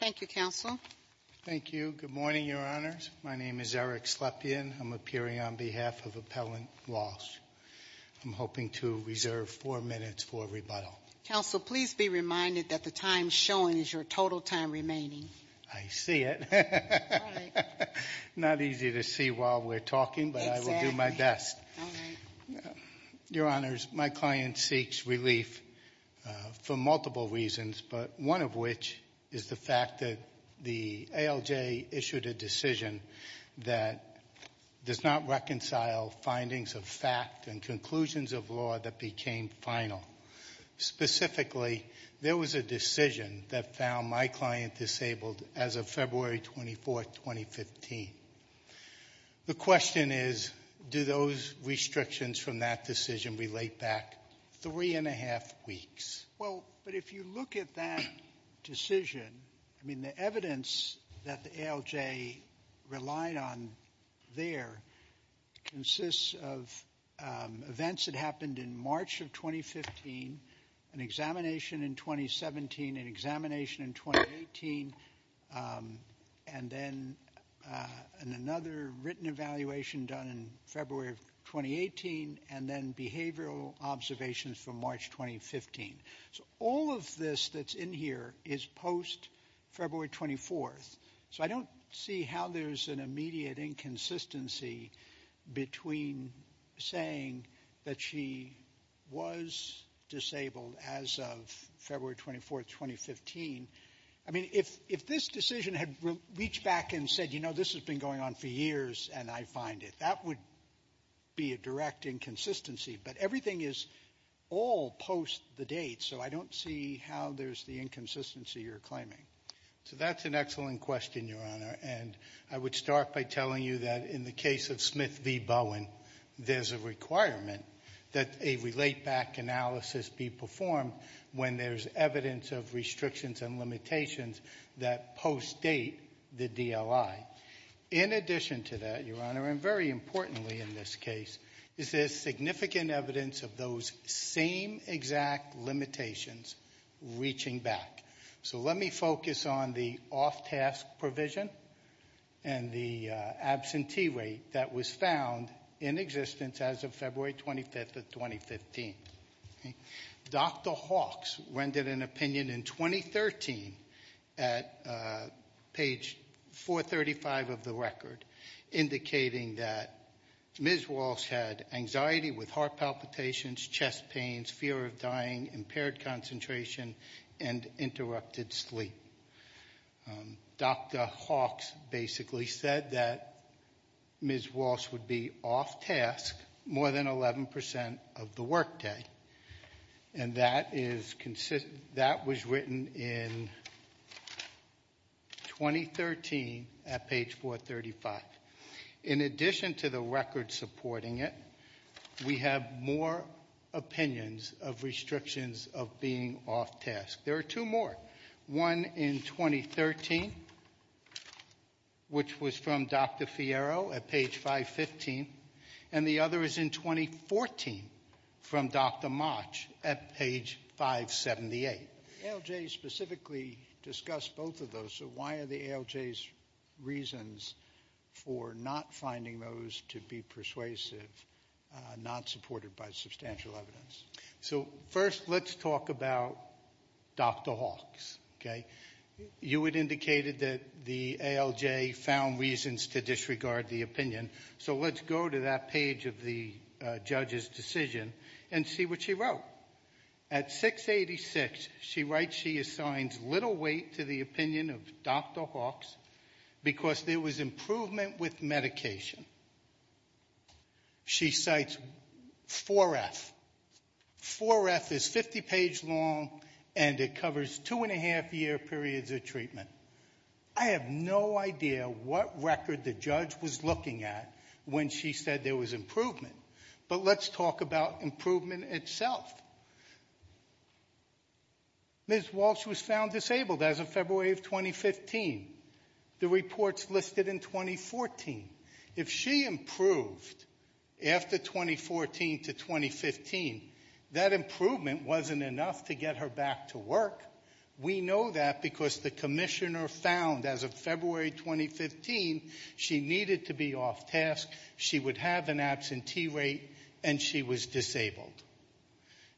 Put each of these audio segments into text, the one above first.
Thank you, Counsel. Thank you. Good morning, Your Honors. My name is Eric Slepian. I'm appearing on behalf of Appellant Walsh. I'm hoping to reserve four minutes for rebuttal. Counsel, please be reminded that the time shown is your total time remaining. I see it. Not easy to see while we're talking, but I will do my best. All right. Your Honors, my client seeks relief for multiple reasons, but one of which is the fact that the ALJ issued a decision that does not reconcile findings of fact and conclusions of law that became final. Specifically, there was a decision that found my client disabled as of February 24, 2015. The question is, do those restrictions from that decision relate back three and a half weeks? Well, but if you look at that decision, I mean the evidence that the ALJ relied on there consists of events that happened in March of 2015, an examination in 2017, an examination in 2018, and then another written evaluation done in February of 2018, and then behavioral observations from March 2015. So all of this that's in here is post-February 24th. So I don't see how there's an immediate inconsistency between saying that she was disabled as of February 24th, 2015. I mean, if this decision had reached back and said, you know, this has been going on for years and I find it, that would be a direct inconsistency. But everything is all post the date, so I don't see how there's the inconsistency you're claiming. So that's an excellent question, Your Honor. And I would start by telling you that in the case of Smith v. Bowen, there's a requirement that a relate-back analysis be performed when there's evidence of restrictions and limitations that post-date the DLI. In addition to that, Your Honor, and very importantly in this case, is there significant evidence of those same exact limitations reaching back? So let me focus on the off-task provision and the absentee rate that was found in existence as of February 25th of 2015. Dr. Hawks rendered an opinion in 2013 at page 435 of the record, indicating that Ms. Walsh had anxiety with heart palpitations, chest pains, fear of dying, impaired concentration, and interrupted sleep. Dr. Hawks basically said that Ms. Walsh would be off-task more than 11% of the workday. And that was written in 2013 at page 435. In addition to the record supporting it, we have more opinions of restrictions of being off-task. There are two more. One in 2013, which was from Dr. Fierro at page 515. And the other is in 2014 from Dr. Motch at page 578. ALJ specifically discussed both of those. So why are the ALJ's reasons for not finding those to be persuasive not supported by substantial evidence? So first, let's talk about Dr. Hawks. You had indicated that the ALJ found reasons to disregard the opinion. So let's go to that page of the judge's decision and see what she wrote. At 686, she writes she assigns little weight to the opinion of Dr. Hawks because there was improvement with medication. She cites 4F. 4F is 50 page long and it covers two and a half year periods of treatment. I have no idea what record the judge was looking at when she said there was improvement. But let's talk about improvement itself. Ms. Walsh was found disabled as of February of 2015. The report's listed in 2014. If she improved after 2014 to 2015, that improvement wasn't enough to get her back to work. We know that because the commissioner found as of February 2015 she needed to be off task, she would have an absentee rate, and she was disabled.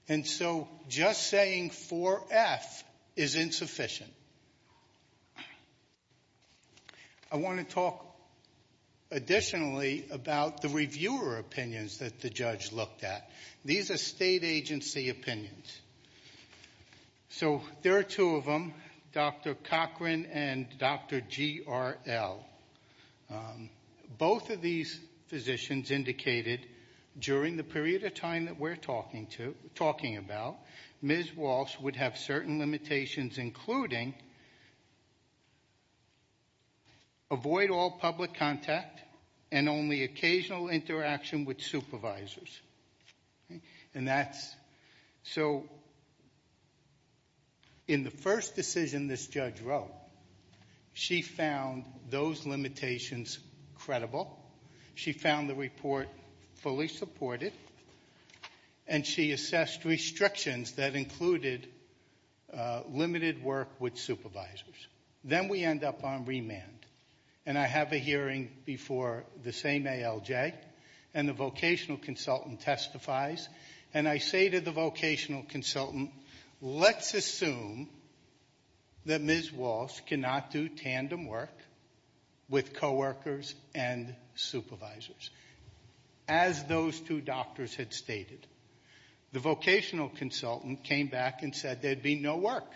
And so just saying 4F is insufficient. I want to talk additionally about the reviewer opinions that the judge looked at. These are state agency opinions. So there are two of them, Dr. Cochran and Dr. GRL. Both of these physicians indicated during the period of time that we're talking about, Ms. Walsh would have certain limitations including avoid all public contact and only occasional interaction with supervisors. And that's so in the first decision this judge wrote, she found those limitations credible. She found the report fully supported. And she assessed restrictions that included limited work with supervisors. Then we end up on remand. And I have a hearing before the same ALJ and the vocational consultant testifies. And I say to the vocational consultant, let's assume that Ms. Walsh cannot do tandem work with co-workers and supervisors. As those two doctors had stated. The vocational consultant came back and said there'd be no work.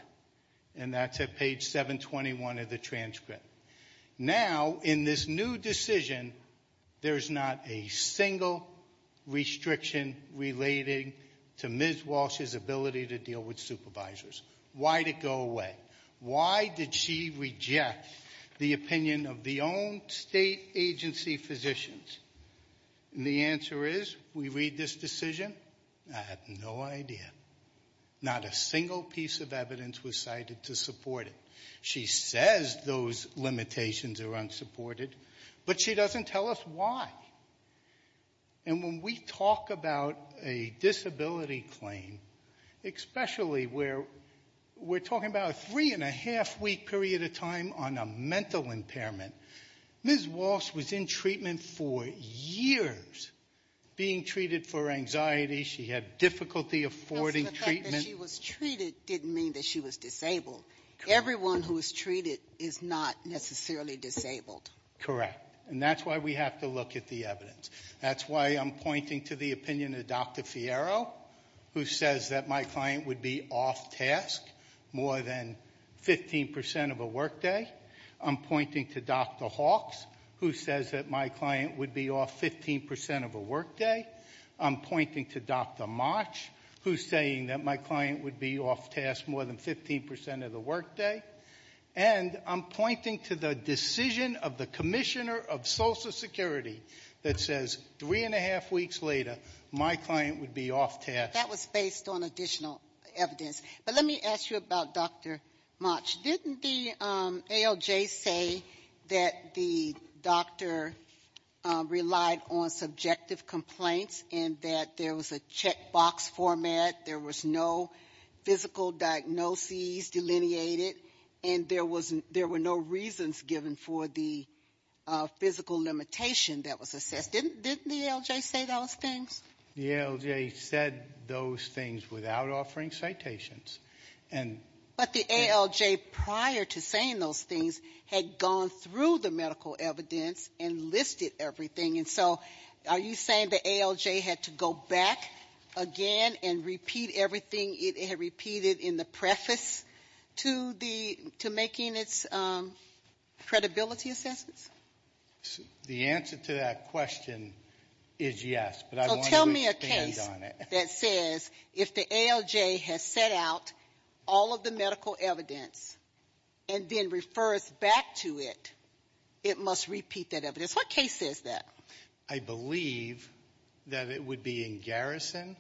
And that's at page 721 of the transcript. Now in this new decision, there's not a single restriction relating to Ms. Walsh's ability to deal with supervisors. Why did it go away? Why did she reject the opinion of the own state agency physicians? And the answer is, we read this decision, I have no idea. Not a single piece of evidence was cited to support it. She says those limitations are unsupported. But she doesn't tell us why. And when we talk about a disability claim, especially where we're talking about a three and a half week period of time on a mental impairment. Ms. Walsh was in treatment for years. Being treated for anxiety, she had difficulty affording treatment. She was treated didn't mean that she was disabled. Everyone who was treated is not necessarily disabled. Correct. And that's why we have to look at the evidence. That's why I'm pointing to the opinion of Dr. Fierro, who says that my client would be off task more than 15% of a work day. I'm pointing to Dr. Hawks, who says that my client would be off 15% of a work day. I'm pointing to Dr. March, who's saying that my client would be off task more than 15% of the work day. And I'm pointing to the decision of the Commissioner of Social Security that says, three and a half weeks later, my client would be off task. That was based on additional evidence. But let me ask you about Dr. March. Didn't the ALJ say that the doctor relied on subjective complaints and that there was a check box format. There was no physical diagnoses delineated. And there were no reasons given for the physical limitation that was assessed. Didn't the ALJ say those things? The ALJ said those things without offering citations. And- But the ALJ, prior to saying those things, had gone through the medical evidence and listed everything. And so, are you saying the ALJ had to go back again and repeat everything it had repeated in the preface to making its credibility assessments? The answer to that question is yes. But I want to expand on it. So tell me a case that says, if the ALJ has set out all of the medical evidence and then refers back to it, it must repeat that evidence. What case is that? I believe that it would be in Garrison.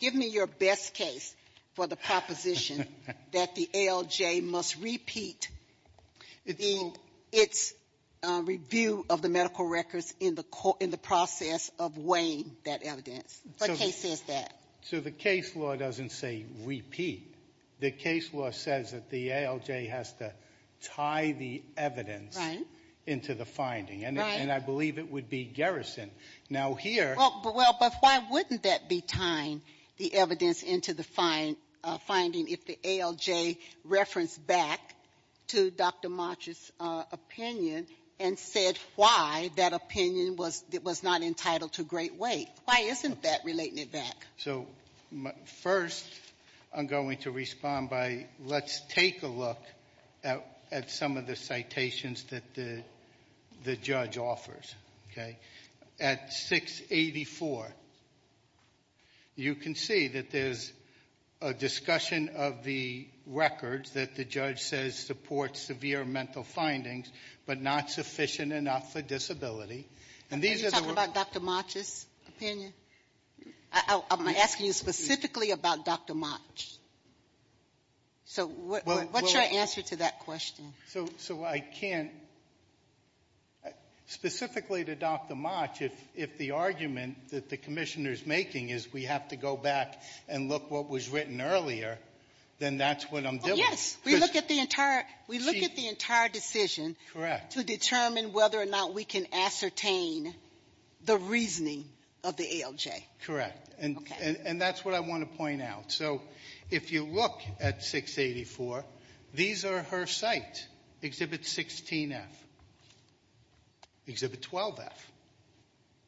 Give me your best case for the proposition that the ALJ must repeat its review of the medical records in the process of weighing that evidence. What case says that? So the case law doesn't say repeat. The case law says that the ALJ has to tie the evidence into the finding. And I believe it would be Garrison. Now here- Well, but why wouldn't that be tying the evidence into the finding if the ALJ referenced back to Dr. March's opinion and said why that opinion was not entitled to great weight? Why isn't that relating it back? So first, I'm going to respond by, let's take a look at some of the citations that the judge offers, okay? At 684, you can see that there's a discussion of the records that the judge says support severe mental findings, but not sufficient enough for disability. And these are the- Are you talking about Dr. March's opinion? I'm asking you specifically about Dr. March. So what's your answer to that question? So I can't, specifically to Dr. March, if the argument that the commissioner's making is we have to go back and look what was written earlier, then that's what I'm dealing with. Yes, we look at the entire decision- To determine whether or not we can ascertain the reasoning of the ALJ. Correct. Okay. And that's what I want to point out. And so, if you look at 684, these are her sites. Exhibit 16F, Exhibit 12F,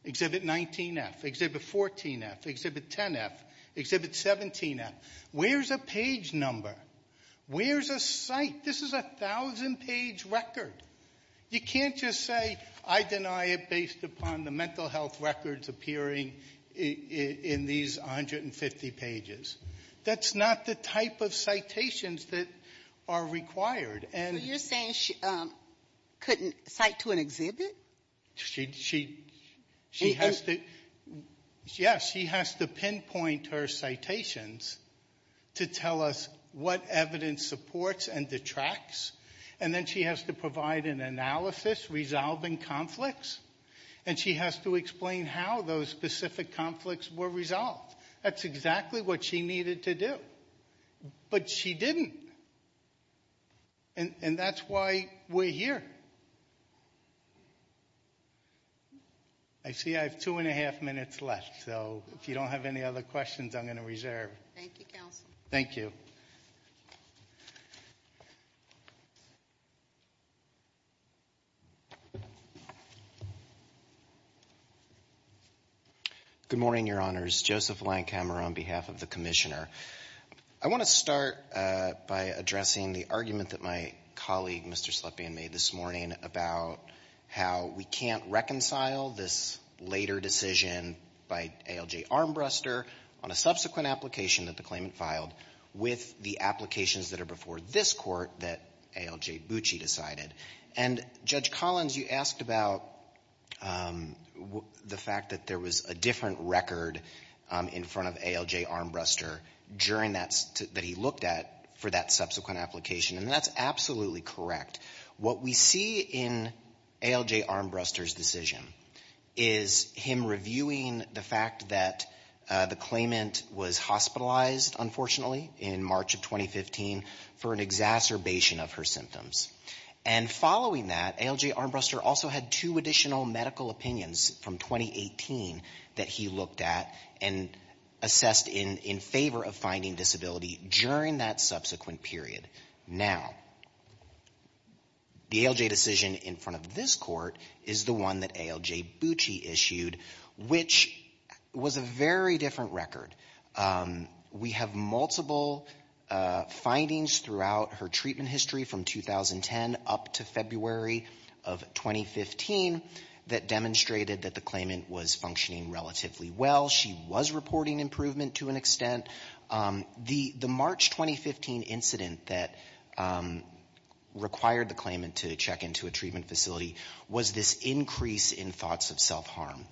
Exhibit 19F, Exhibit 14F, Exhibit 10F, Exhibit 17F. Where's a page number? Where's a site? This is a 1,000 page record. You can't just say, I deny it based upon the mental health records appearing in these 150 pages. That's not the type of citations that are required. And- So you're saying she couldn't cite to an exhibit? She has to, yes, she has to pinpoint her citations to tell us what evidence supports and detracts. And then she has to provide an analysis resolving conflicts. And she has to explain how those specific conflicts were resolved. That's exactly what she needed to do. But she didn't. And that's why we're here. I see I have two and a half minutes left. So if you don't have any other questions, I'm going to reserve. Thank you, counsel. Thank you. Good morning, Your Honors. Joseph Langhammer on behalf of the Commissioner. I want to start by addressing the argument that my colleague, Mr. Slepian, made this morning about how we can't reconcile this later decision by ALJ Armbruster on a subsequent application that the claimant filed with the applications that are before this court that ALJ Bucci decided. And Judge Collins, you asked about the fact that there was a different record in front of ALJ Armbruster that he looked at for that subsequent application. And that's absolutely correct. What we see in ALJ Armbruster's decision is him reviewing the fact that the claimant was hospitalized, unfortunately, in March of 2015 for an exacerbation of her symptoms. And following that, ALJ Armbruster also had two additional medical opinions from 2018 that he looked at and assessed in favor of finding disability during that subsequent period. Now, the ALJ decision in front of this court is the one that ALJ Bucci issued, which was a very different record. We have multiple findings throughout her treatment history from 2010 up to February of 2015 that demonstrated that the claimant was functioning relatively well. She was reporting improvement to an extent. The March 2015 incident that required the claimant to check into a treatment facility was this increase in thoughts of self-harm.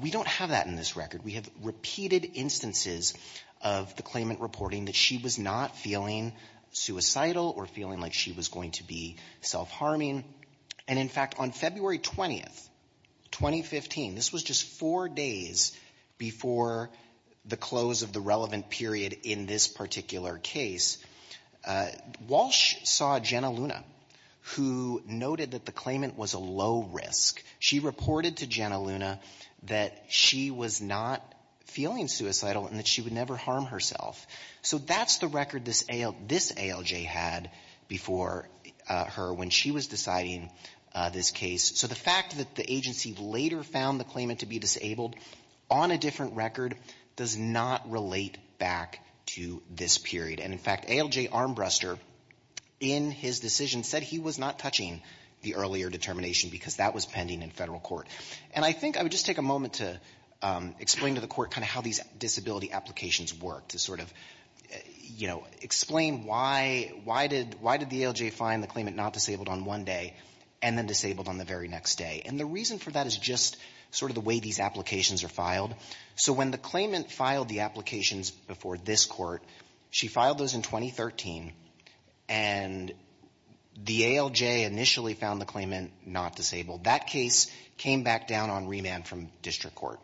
We don't have that in this record. We have repeated instances of the claimant reporting that she was not feeling suicidal or feeling like she was going to be self-harming. And, in fact, on February 20th, 2015, this was just four days before the close of the relevant period in this particular case, Walsh saw Jenna Luna, who noted that the claimant was a low risk. She reported to Jenna Luna that she was not feeling suicidal and that she would never harm herself. So that's the record this ALJ had before her when she was deciding this case. So the fact that the agency later found the claimant to be disabled on a different record does not relate back to this period. And, in fact, ALJ Armbruster, in his decision, said he was not touching the earlier determination because that was pending in federal court. And I think I would just take a moment to explain to the court kind of how these disability applications work to sort of, you know, explain why did the ALJ find the claimant not disabled on one day and then disabled on the very next day. And the reason for that is just sort of the way these applications are filed. So when the claimant filed the applications before this court, she filed those in 2013 and the ALJ initially found the claimant not disabled. That case came back down on remand from district court.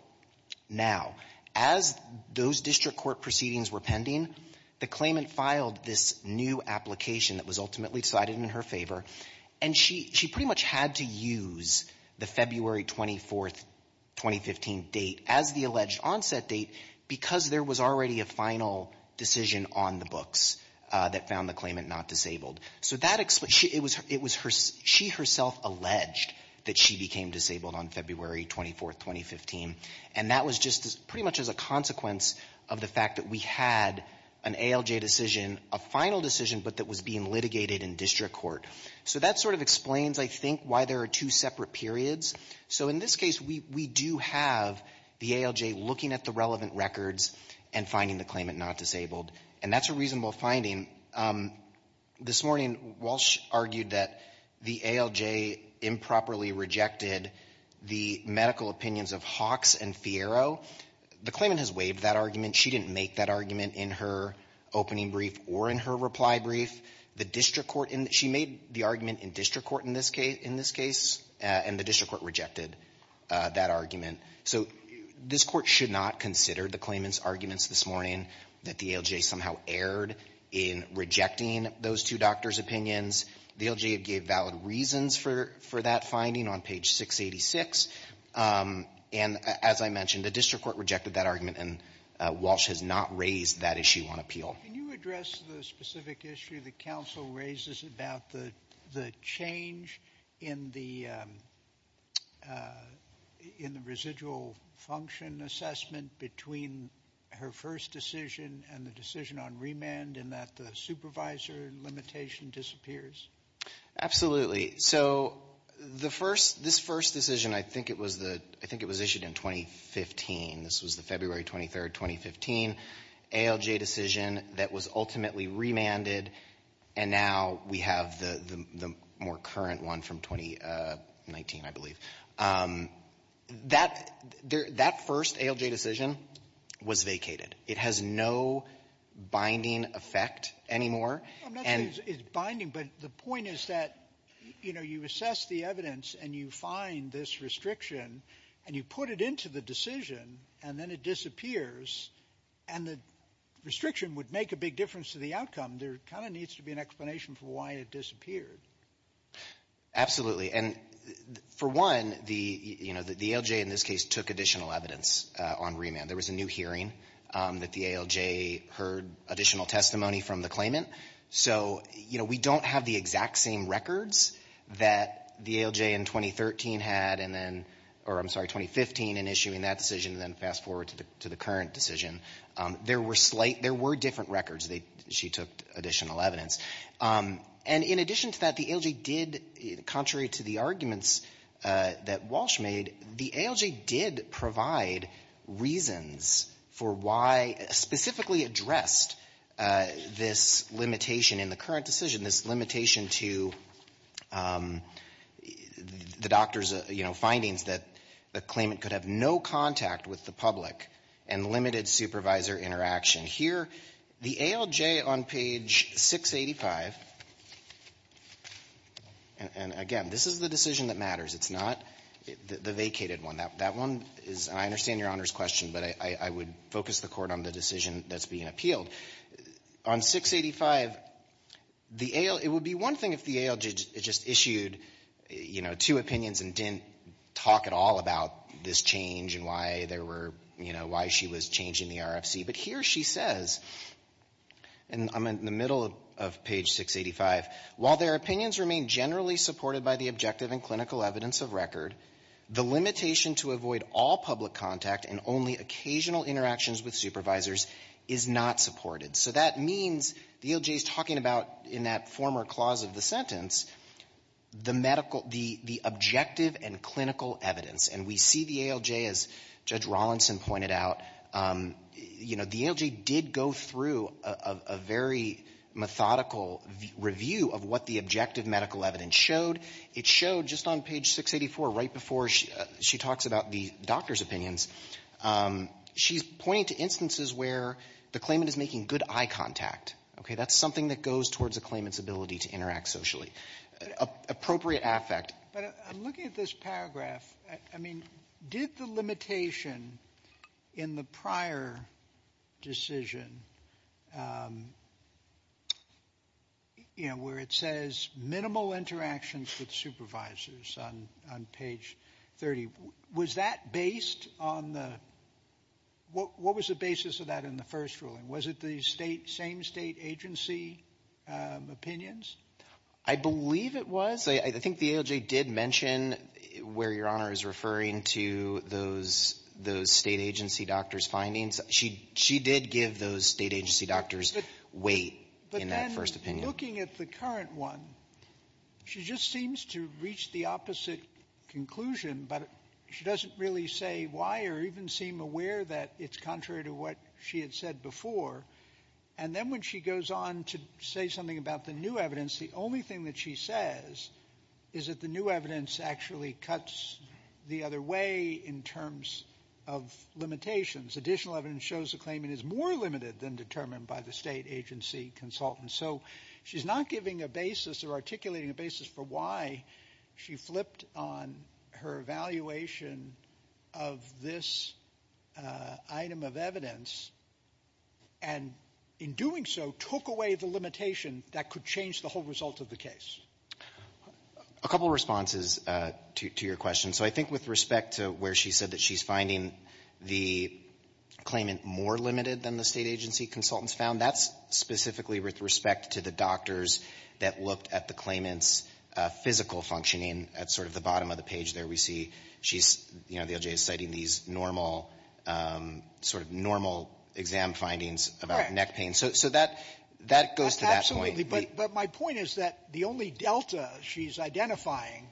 Now, as those district court proceedings were pending, the claimant filed this new application that was ultimately decided in her favor, and she pretty much had to use the February 24th, 2015 date as the alleged onset date because there was already a final decision on the books that found the claimant not disabled. So it was she herself alleged that she became disabled on February 24th, 2015, and that was just pretty much as a consequence of the fact that we had an ALJ decision, a final decision, but that was being litigated in district court. So that sort of explains, I think, why there are two separate periods. So in this case, we do have the ALJ looking at the relevant records and finding the claimant not disabled, and that's a reasonable finding. This morning, Walsh argued that the ALJ improperly rejected the medical opinions of Hawks and Fiero. The claimant has waived that argument. She didn't make that argument in her opening brief or in her reply brief. The district court in the — she made the argument in district court in this case, and the district court rejected that argument. So this court should not consider the claimant's arguments this morning that the ALJ somehow erred in rejecting those two doctors' opinions. The ALJ gave valid reasons for that finding on page 686, and as I mentioned, the district court rejected that argument, and Walsh has not raised that issue on appeal. Can you address the specific issue that counsel raises about the change in the residual function assessment between her first decision and the decision on remand, in that the supervisor limitation disappears? Absolutely. So the first — this first decision, I think it was the — I think it was issued in 2015. This was the February 23, 2015 ALJ decision that was ultimately remanded, and now we have the more current one from 2019, I believe. That first ALJ decision was vacated. It has no binding effect anymore. And — I'm not saying it's binding, but the point is that, you know, you assess the evidence and you find this restriction and you put it into the decision and then it disappears, and the restriction would make a big difference to the outcome. There kind of needs to be an explanation for why it disappeared. Absolutely. And for one, the — you know, the ALJ in this case took additional evidence on remand. There was a new hearing that the ALJ heard additional testimony from the claimant. So, you know, we don't have the exact same records that the ALJ in 2013 had and then — or I'm sorry, 2015 in issuing that decision and then fast-forward to the current decision. There were slight — there were different records that she took additional evidence. And in addition to that, the ALJ did — contrary to the arguments that Walsh made, the ALJ did provide reasons for why — specifically addressed this limitation in the current decision, this limitation to the doctor's, you know, findings that the claimant could have no contact with the public and limited supervisor interaction. Here, the ALJ on page 685 — and again, this is the decision that matters. It's not the vacated one. That one is — and I understand Your Honor's question, but I would focus the Court on the decision that's being appealed. On 685, the AL — it would be one thing if the ALJ just issued, you know, two opinions and didn't talk at all about this change and why there were — you know, why she was changing the RFC. But here she says — and I'm in the middle of page 685 — while their opinions generally supported by the objective and clinical evidence of record, the limitation to avoid all public contact and only occasional interactions with supervisors is not supported. So that means the ALJ is talking about, in that former clause of the sentence, the medical — the objective and clinical evidence. And we see the ALJ, as Judge Rawlinson pointed out, you know, the ALJ did go through a very methodical review of what the objective medical evidence showed. It showed, just on page 684, right before she talks about the doctor's opinions, she's pointing to instances where the claimant is making good eye contact. Okay? That's something that goes towards a claimant's ability to interact socially. Appropriate affect. But I'm looking at this paragraph. I mean, did the limitation in the prior decision, you know, where it says minimal interactions with supervisors on page 30, was that based on the — what was the basis of that in the first ruling? Was it the same state agency opinions? I believe it was. I think the ALJ did mention where Your Honor is referring to those state agency doctors' findings. She did give those state agency doctors weight in that first opinion. But then, looking at the current one, she just seems to reach the opposite conclusion, but she doesn't really say why or even seem aware that it's contrary to what she had said before. And then when she goes on to say something about the new evidence, the only thing that she says is that the new evidence actually cuts the other way in terms of limitations. Additional evidence shows the claimant is more limited than determined by the state agency consultant. So she's not giving a basis or articulating a basis for why she flipped on her evaluation of this item of evidence and, in doing so, took away the limitation that could change the whole result of the case. Alitoson A couple of responses to your question. So I think with respect to where she said that she's finding the claimant more limited than the state agency consultants found, that's specifically with respect to the doctors that looked at the claimant's physical functioning at sort of the bottom of the page there. We see she's — you know, the ALJ is citing these normal — sort of normal exam findings about neck pain. So that — that goes to that point. But my point is that the only delta she's identifying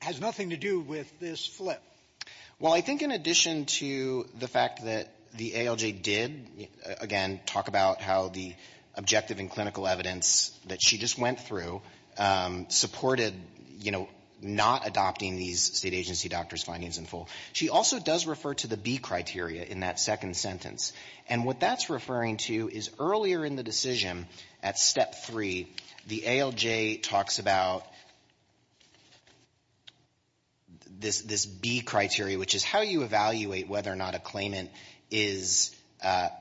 has nothing to do with this flip. Well, I think in addition to the fact that the ALJ did, again, talk about how the objective and clinical evidence that she just went through supported, you know, not adopting these state agency doctors' findings in full, she also does refer to the criteria in that second sentence. And what that's referring to is earlier in the decision, at Step 3, the ALJ talks about this — this B criteria, which is how you evaluate whether or not a claimant is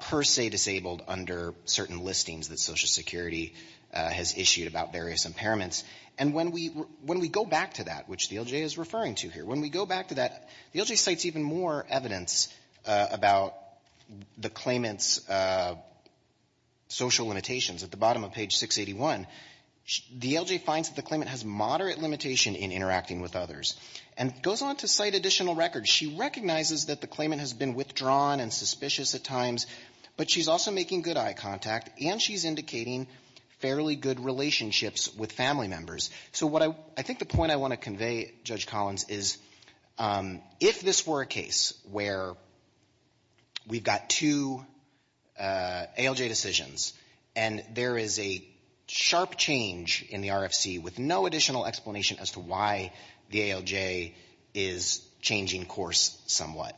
per se disabled under certain listings that Social Security has issued about various impairments. And when we — when we go back to that, which the ALJ is referring to here, when we go back to that, the ALJ cites even more evidence about the claimant's social limitations. At the bottom of page 681, the ALJ finds that the claimant has moderate limitation in interacting with others, and goes on to cite additional records. She recognizes that the claimant has been withdrawn and suspicious at times, but she's also making good eye contact, and she's indicating fairly good relationships with family members. So what I — I think the point I want to convey, Judge Collins, is if this were a case where we've got two ALJ decisions and there is a sharp change in the RFC with no additional explanation as to why the ALJ is changing course somewhat,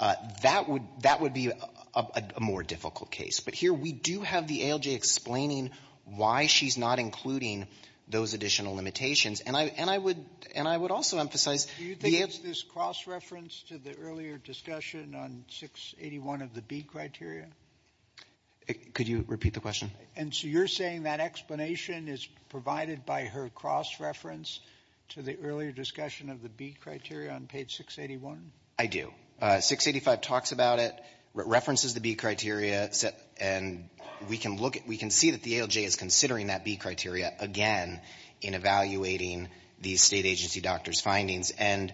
that would — that would be a more difficult case. But here, we do have the ALJ explaining why she's not including those additional limitations. And I — and I would — and I would also emphasize the ALJ — Sotomayor, do you think it's this cross-reference to the earlier discussion on 681 of the B criteria? Could you repeat the question? And so you're saying that explanation is provided by her cross-reference to the earlier discussion of the B criteria on page 681? I do. 685 talks about it, references the B criteria, and we can look at — we can see that the ALJ is considering that B criteria again in evaluating the State agency doctor's And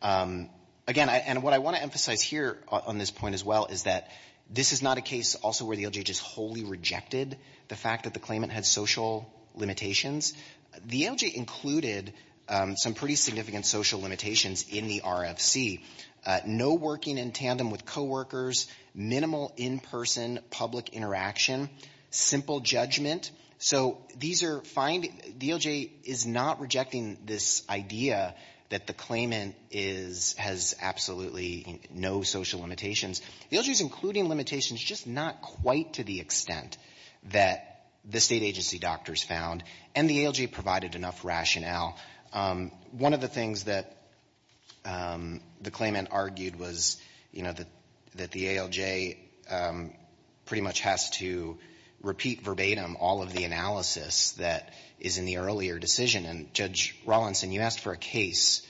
again, I — and what I want to emphasize here on this point as well is that this is not a case also where the ALJ just wholly rejected the fact that the claimant had social limitations. The ALJ included some pretty significant social limitations in the RFC. No working in tandem with coworkers, minimal in-person public interaction, simple judgment. So these are — the ALJ is not rejecting this idea that the claimant is — has absolutely no social limitations. The ALJ is including limitations, just not quite to the extent that the State agency doctors found, and the ALJ provided enough rationale. One of the things that the claimant argued was, you know, that the ALJ pretty much has to repeat verbatim all of the analysis that is in the earlier decision. And, Judge Rawlinson, you asked for a case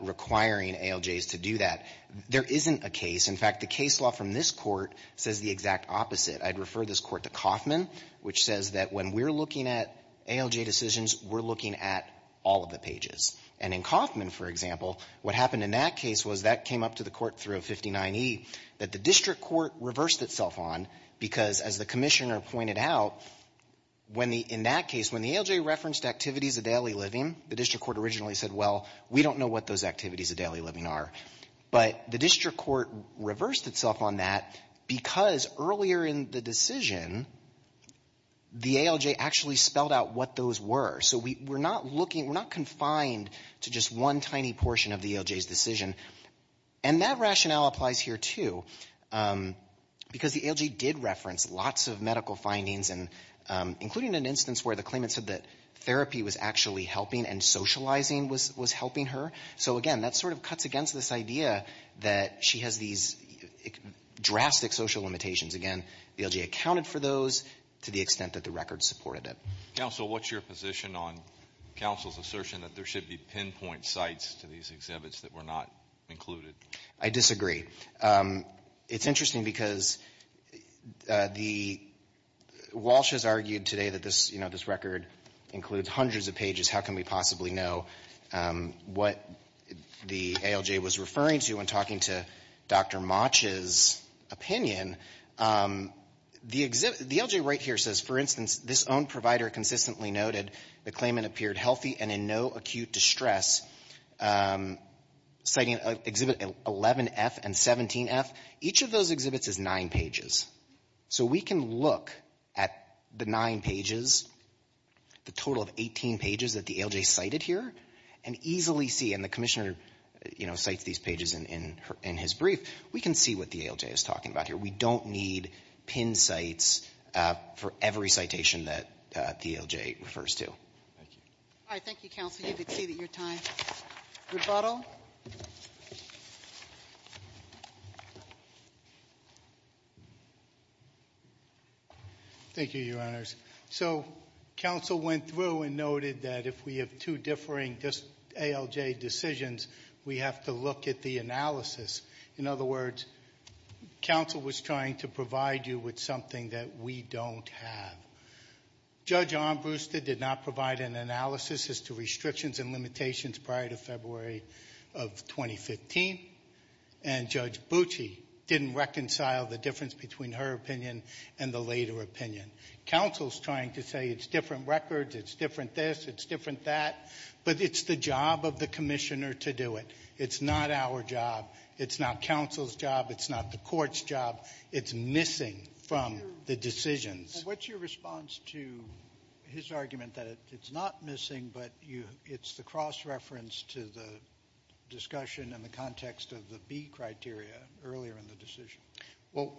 requiring ALJs to do that. There isn't a case. In fact, the case law from this Court says the exact opposite. I'd refer this Court to Kaufman, which says that when we're looking at ALJ decisions, we're looking at all of the pages. And in Kaufman, for example, what happened in that case was that came up to the Court through a 59E that the district court reversed itself on because, as the Commissioner pointed out, when the — in that case, when the ALJ referenced activities of daily living, the district court originally said, well, we don't know what those activities of daily living are. But the district court reversed itself on that because earlier in the decision, the ALJ actually spelled out what those were. So we're not looking — we're not confined to just one tiny portion of the ALJ's decision. And that rationale applies here, too, because the ALJ did reference lots of medical findings and — including an instance where the claimant said that therapy was actually helping and socializing was helping her. So, again, that sort of cuts against this idea that she has these drastic social limitations. Again, the ALJ accounted for those to the extent that the record supported it. Counsel, what's your position on counsel's assertion that there should be pinpoint sites to these exhibits that were not included? I disagree. It's interesting because the — Walsh has argued today that this, you know, this record includes hundreds of pages. How can we possibly know what the ALJ was referring to when talking to Dr. So we can look at the nine pages, the total of 18 pages that the ALJ cited here and easily see — and the Commissioner, you know, cites these pages in his brief — we can see what the ALJ is talking about here. We don't need pin sites for every citation that the ALJ is citing. That's what the ALJ refers to. Thank you. All right. Thank you, Counsel. You can see that you're time. Rebuttal? Thank you, Your Honors. So counsel went through and noted that if we have two differing ALJ decisions, we have to look at the analysis. In other words, counsel was trying to provide you with something that we don't have. Judge Armbruster did not provide an analysis as to restrictions and limitations prior to February of 2015. And Judge Bucci didn't reconcile the difference between her opinion and the later opinion. Counsel's trying to say it's different records, it's different this, it's different that, but it's the job of the Commissioner to do it. It's not our job. It's not counsel's job. It's not the court's job. It's missing from the decisions. What's your response to his argument that it's not missing, but it's the cross-reference to the discussion in the context of the B criteria earlier in the decision? Well,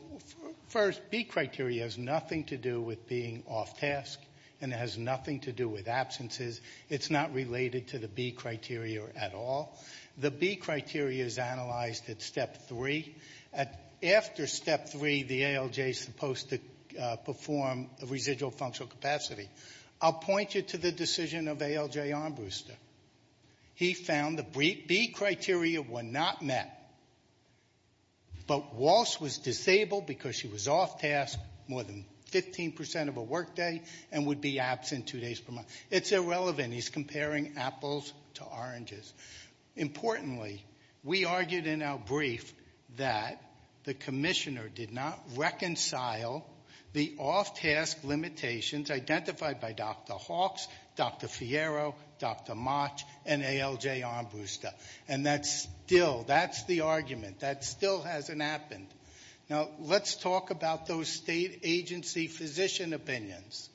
first, B criteria has nothing to do with being off task, and it has nothing to do with absences. It's not related to the B criteria at all. The B criteria is analyzed at step three. After step three, the ALJ is supposed to perform a residual functional capacity. I'll point you to the decision of ALJ Armbruster. He found the B criteria were not met, but Walsh was disabled because she was off task more than 15% of her workday and would be absent two days per month. It's irrelevant. He's comparing apples to oranges. Importantly, we argued in our brief that the Commissioner did not reconcile the off-task limitations identified by Dr. Hawks, Dr. Fierro, Dr. Motch, and ALJ Armbruster. That's the argument. That still hasn't happened. Let's talk about those state agency physician opinions.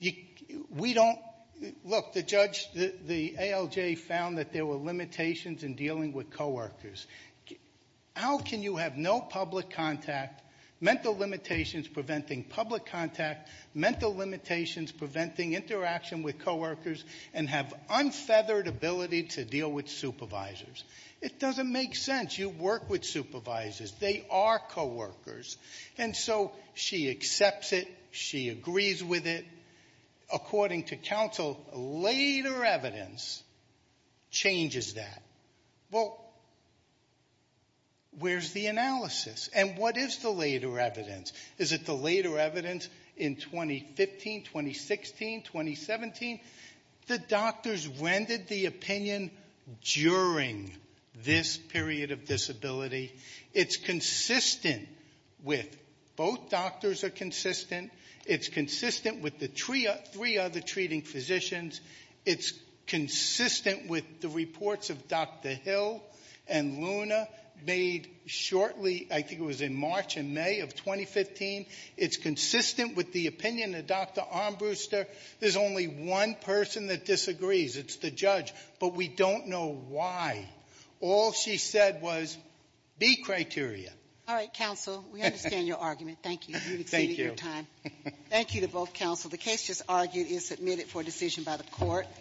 Look, the ALJ found that there were limitations in dealing with co-workers. How can you have no public contact, mental limitations preventing public contact, mental limitations preventing interaction with co-workers, and have unfeathered ability to deal with supervisors? It doesn't make sense. You work with supervisors. They are co-workers. And so she accepts it. She agrees with it. According to counsel, later evidence changes that. Well, where's the analysis? And what is the later evidence? Is it the later evidence in 2015, 2016, 2017? The doctors rendered the opinion during this period of disability. It's consistent with, both doctors are consistent. It's consistent with the three other treating physicians. It's consistent with the reports of Dr. Hill and Luna made shortly, I think it was in March and May of 2015. It's consistent with the opinion of Dr. Armbruster. There's only one person that disagrees. It's the judge. But we don't know why. All she said was B criteria. All right, counsel. We understand your argument. Thank you. You've exceeded your time. Thank you to both counsel. The case just argued is submitted for decision by the court.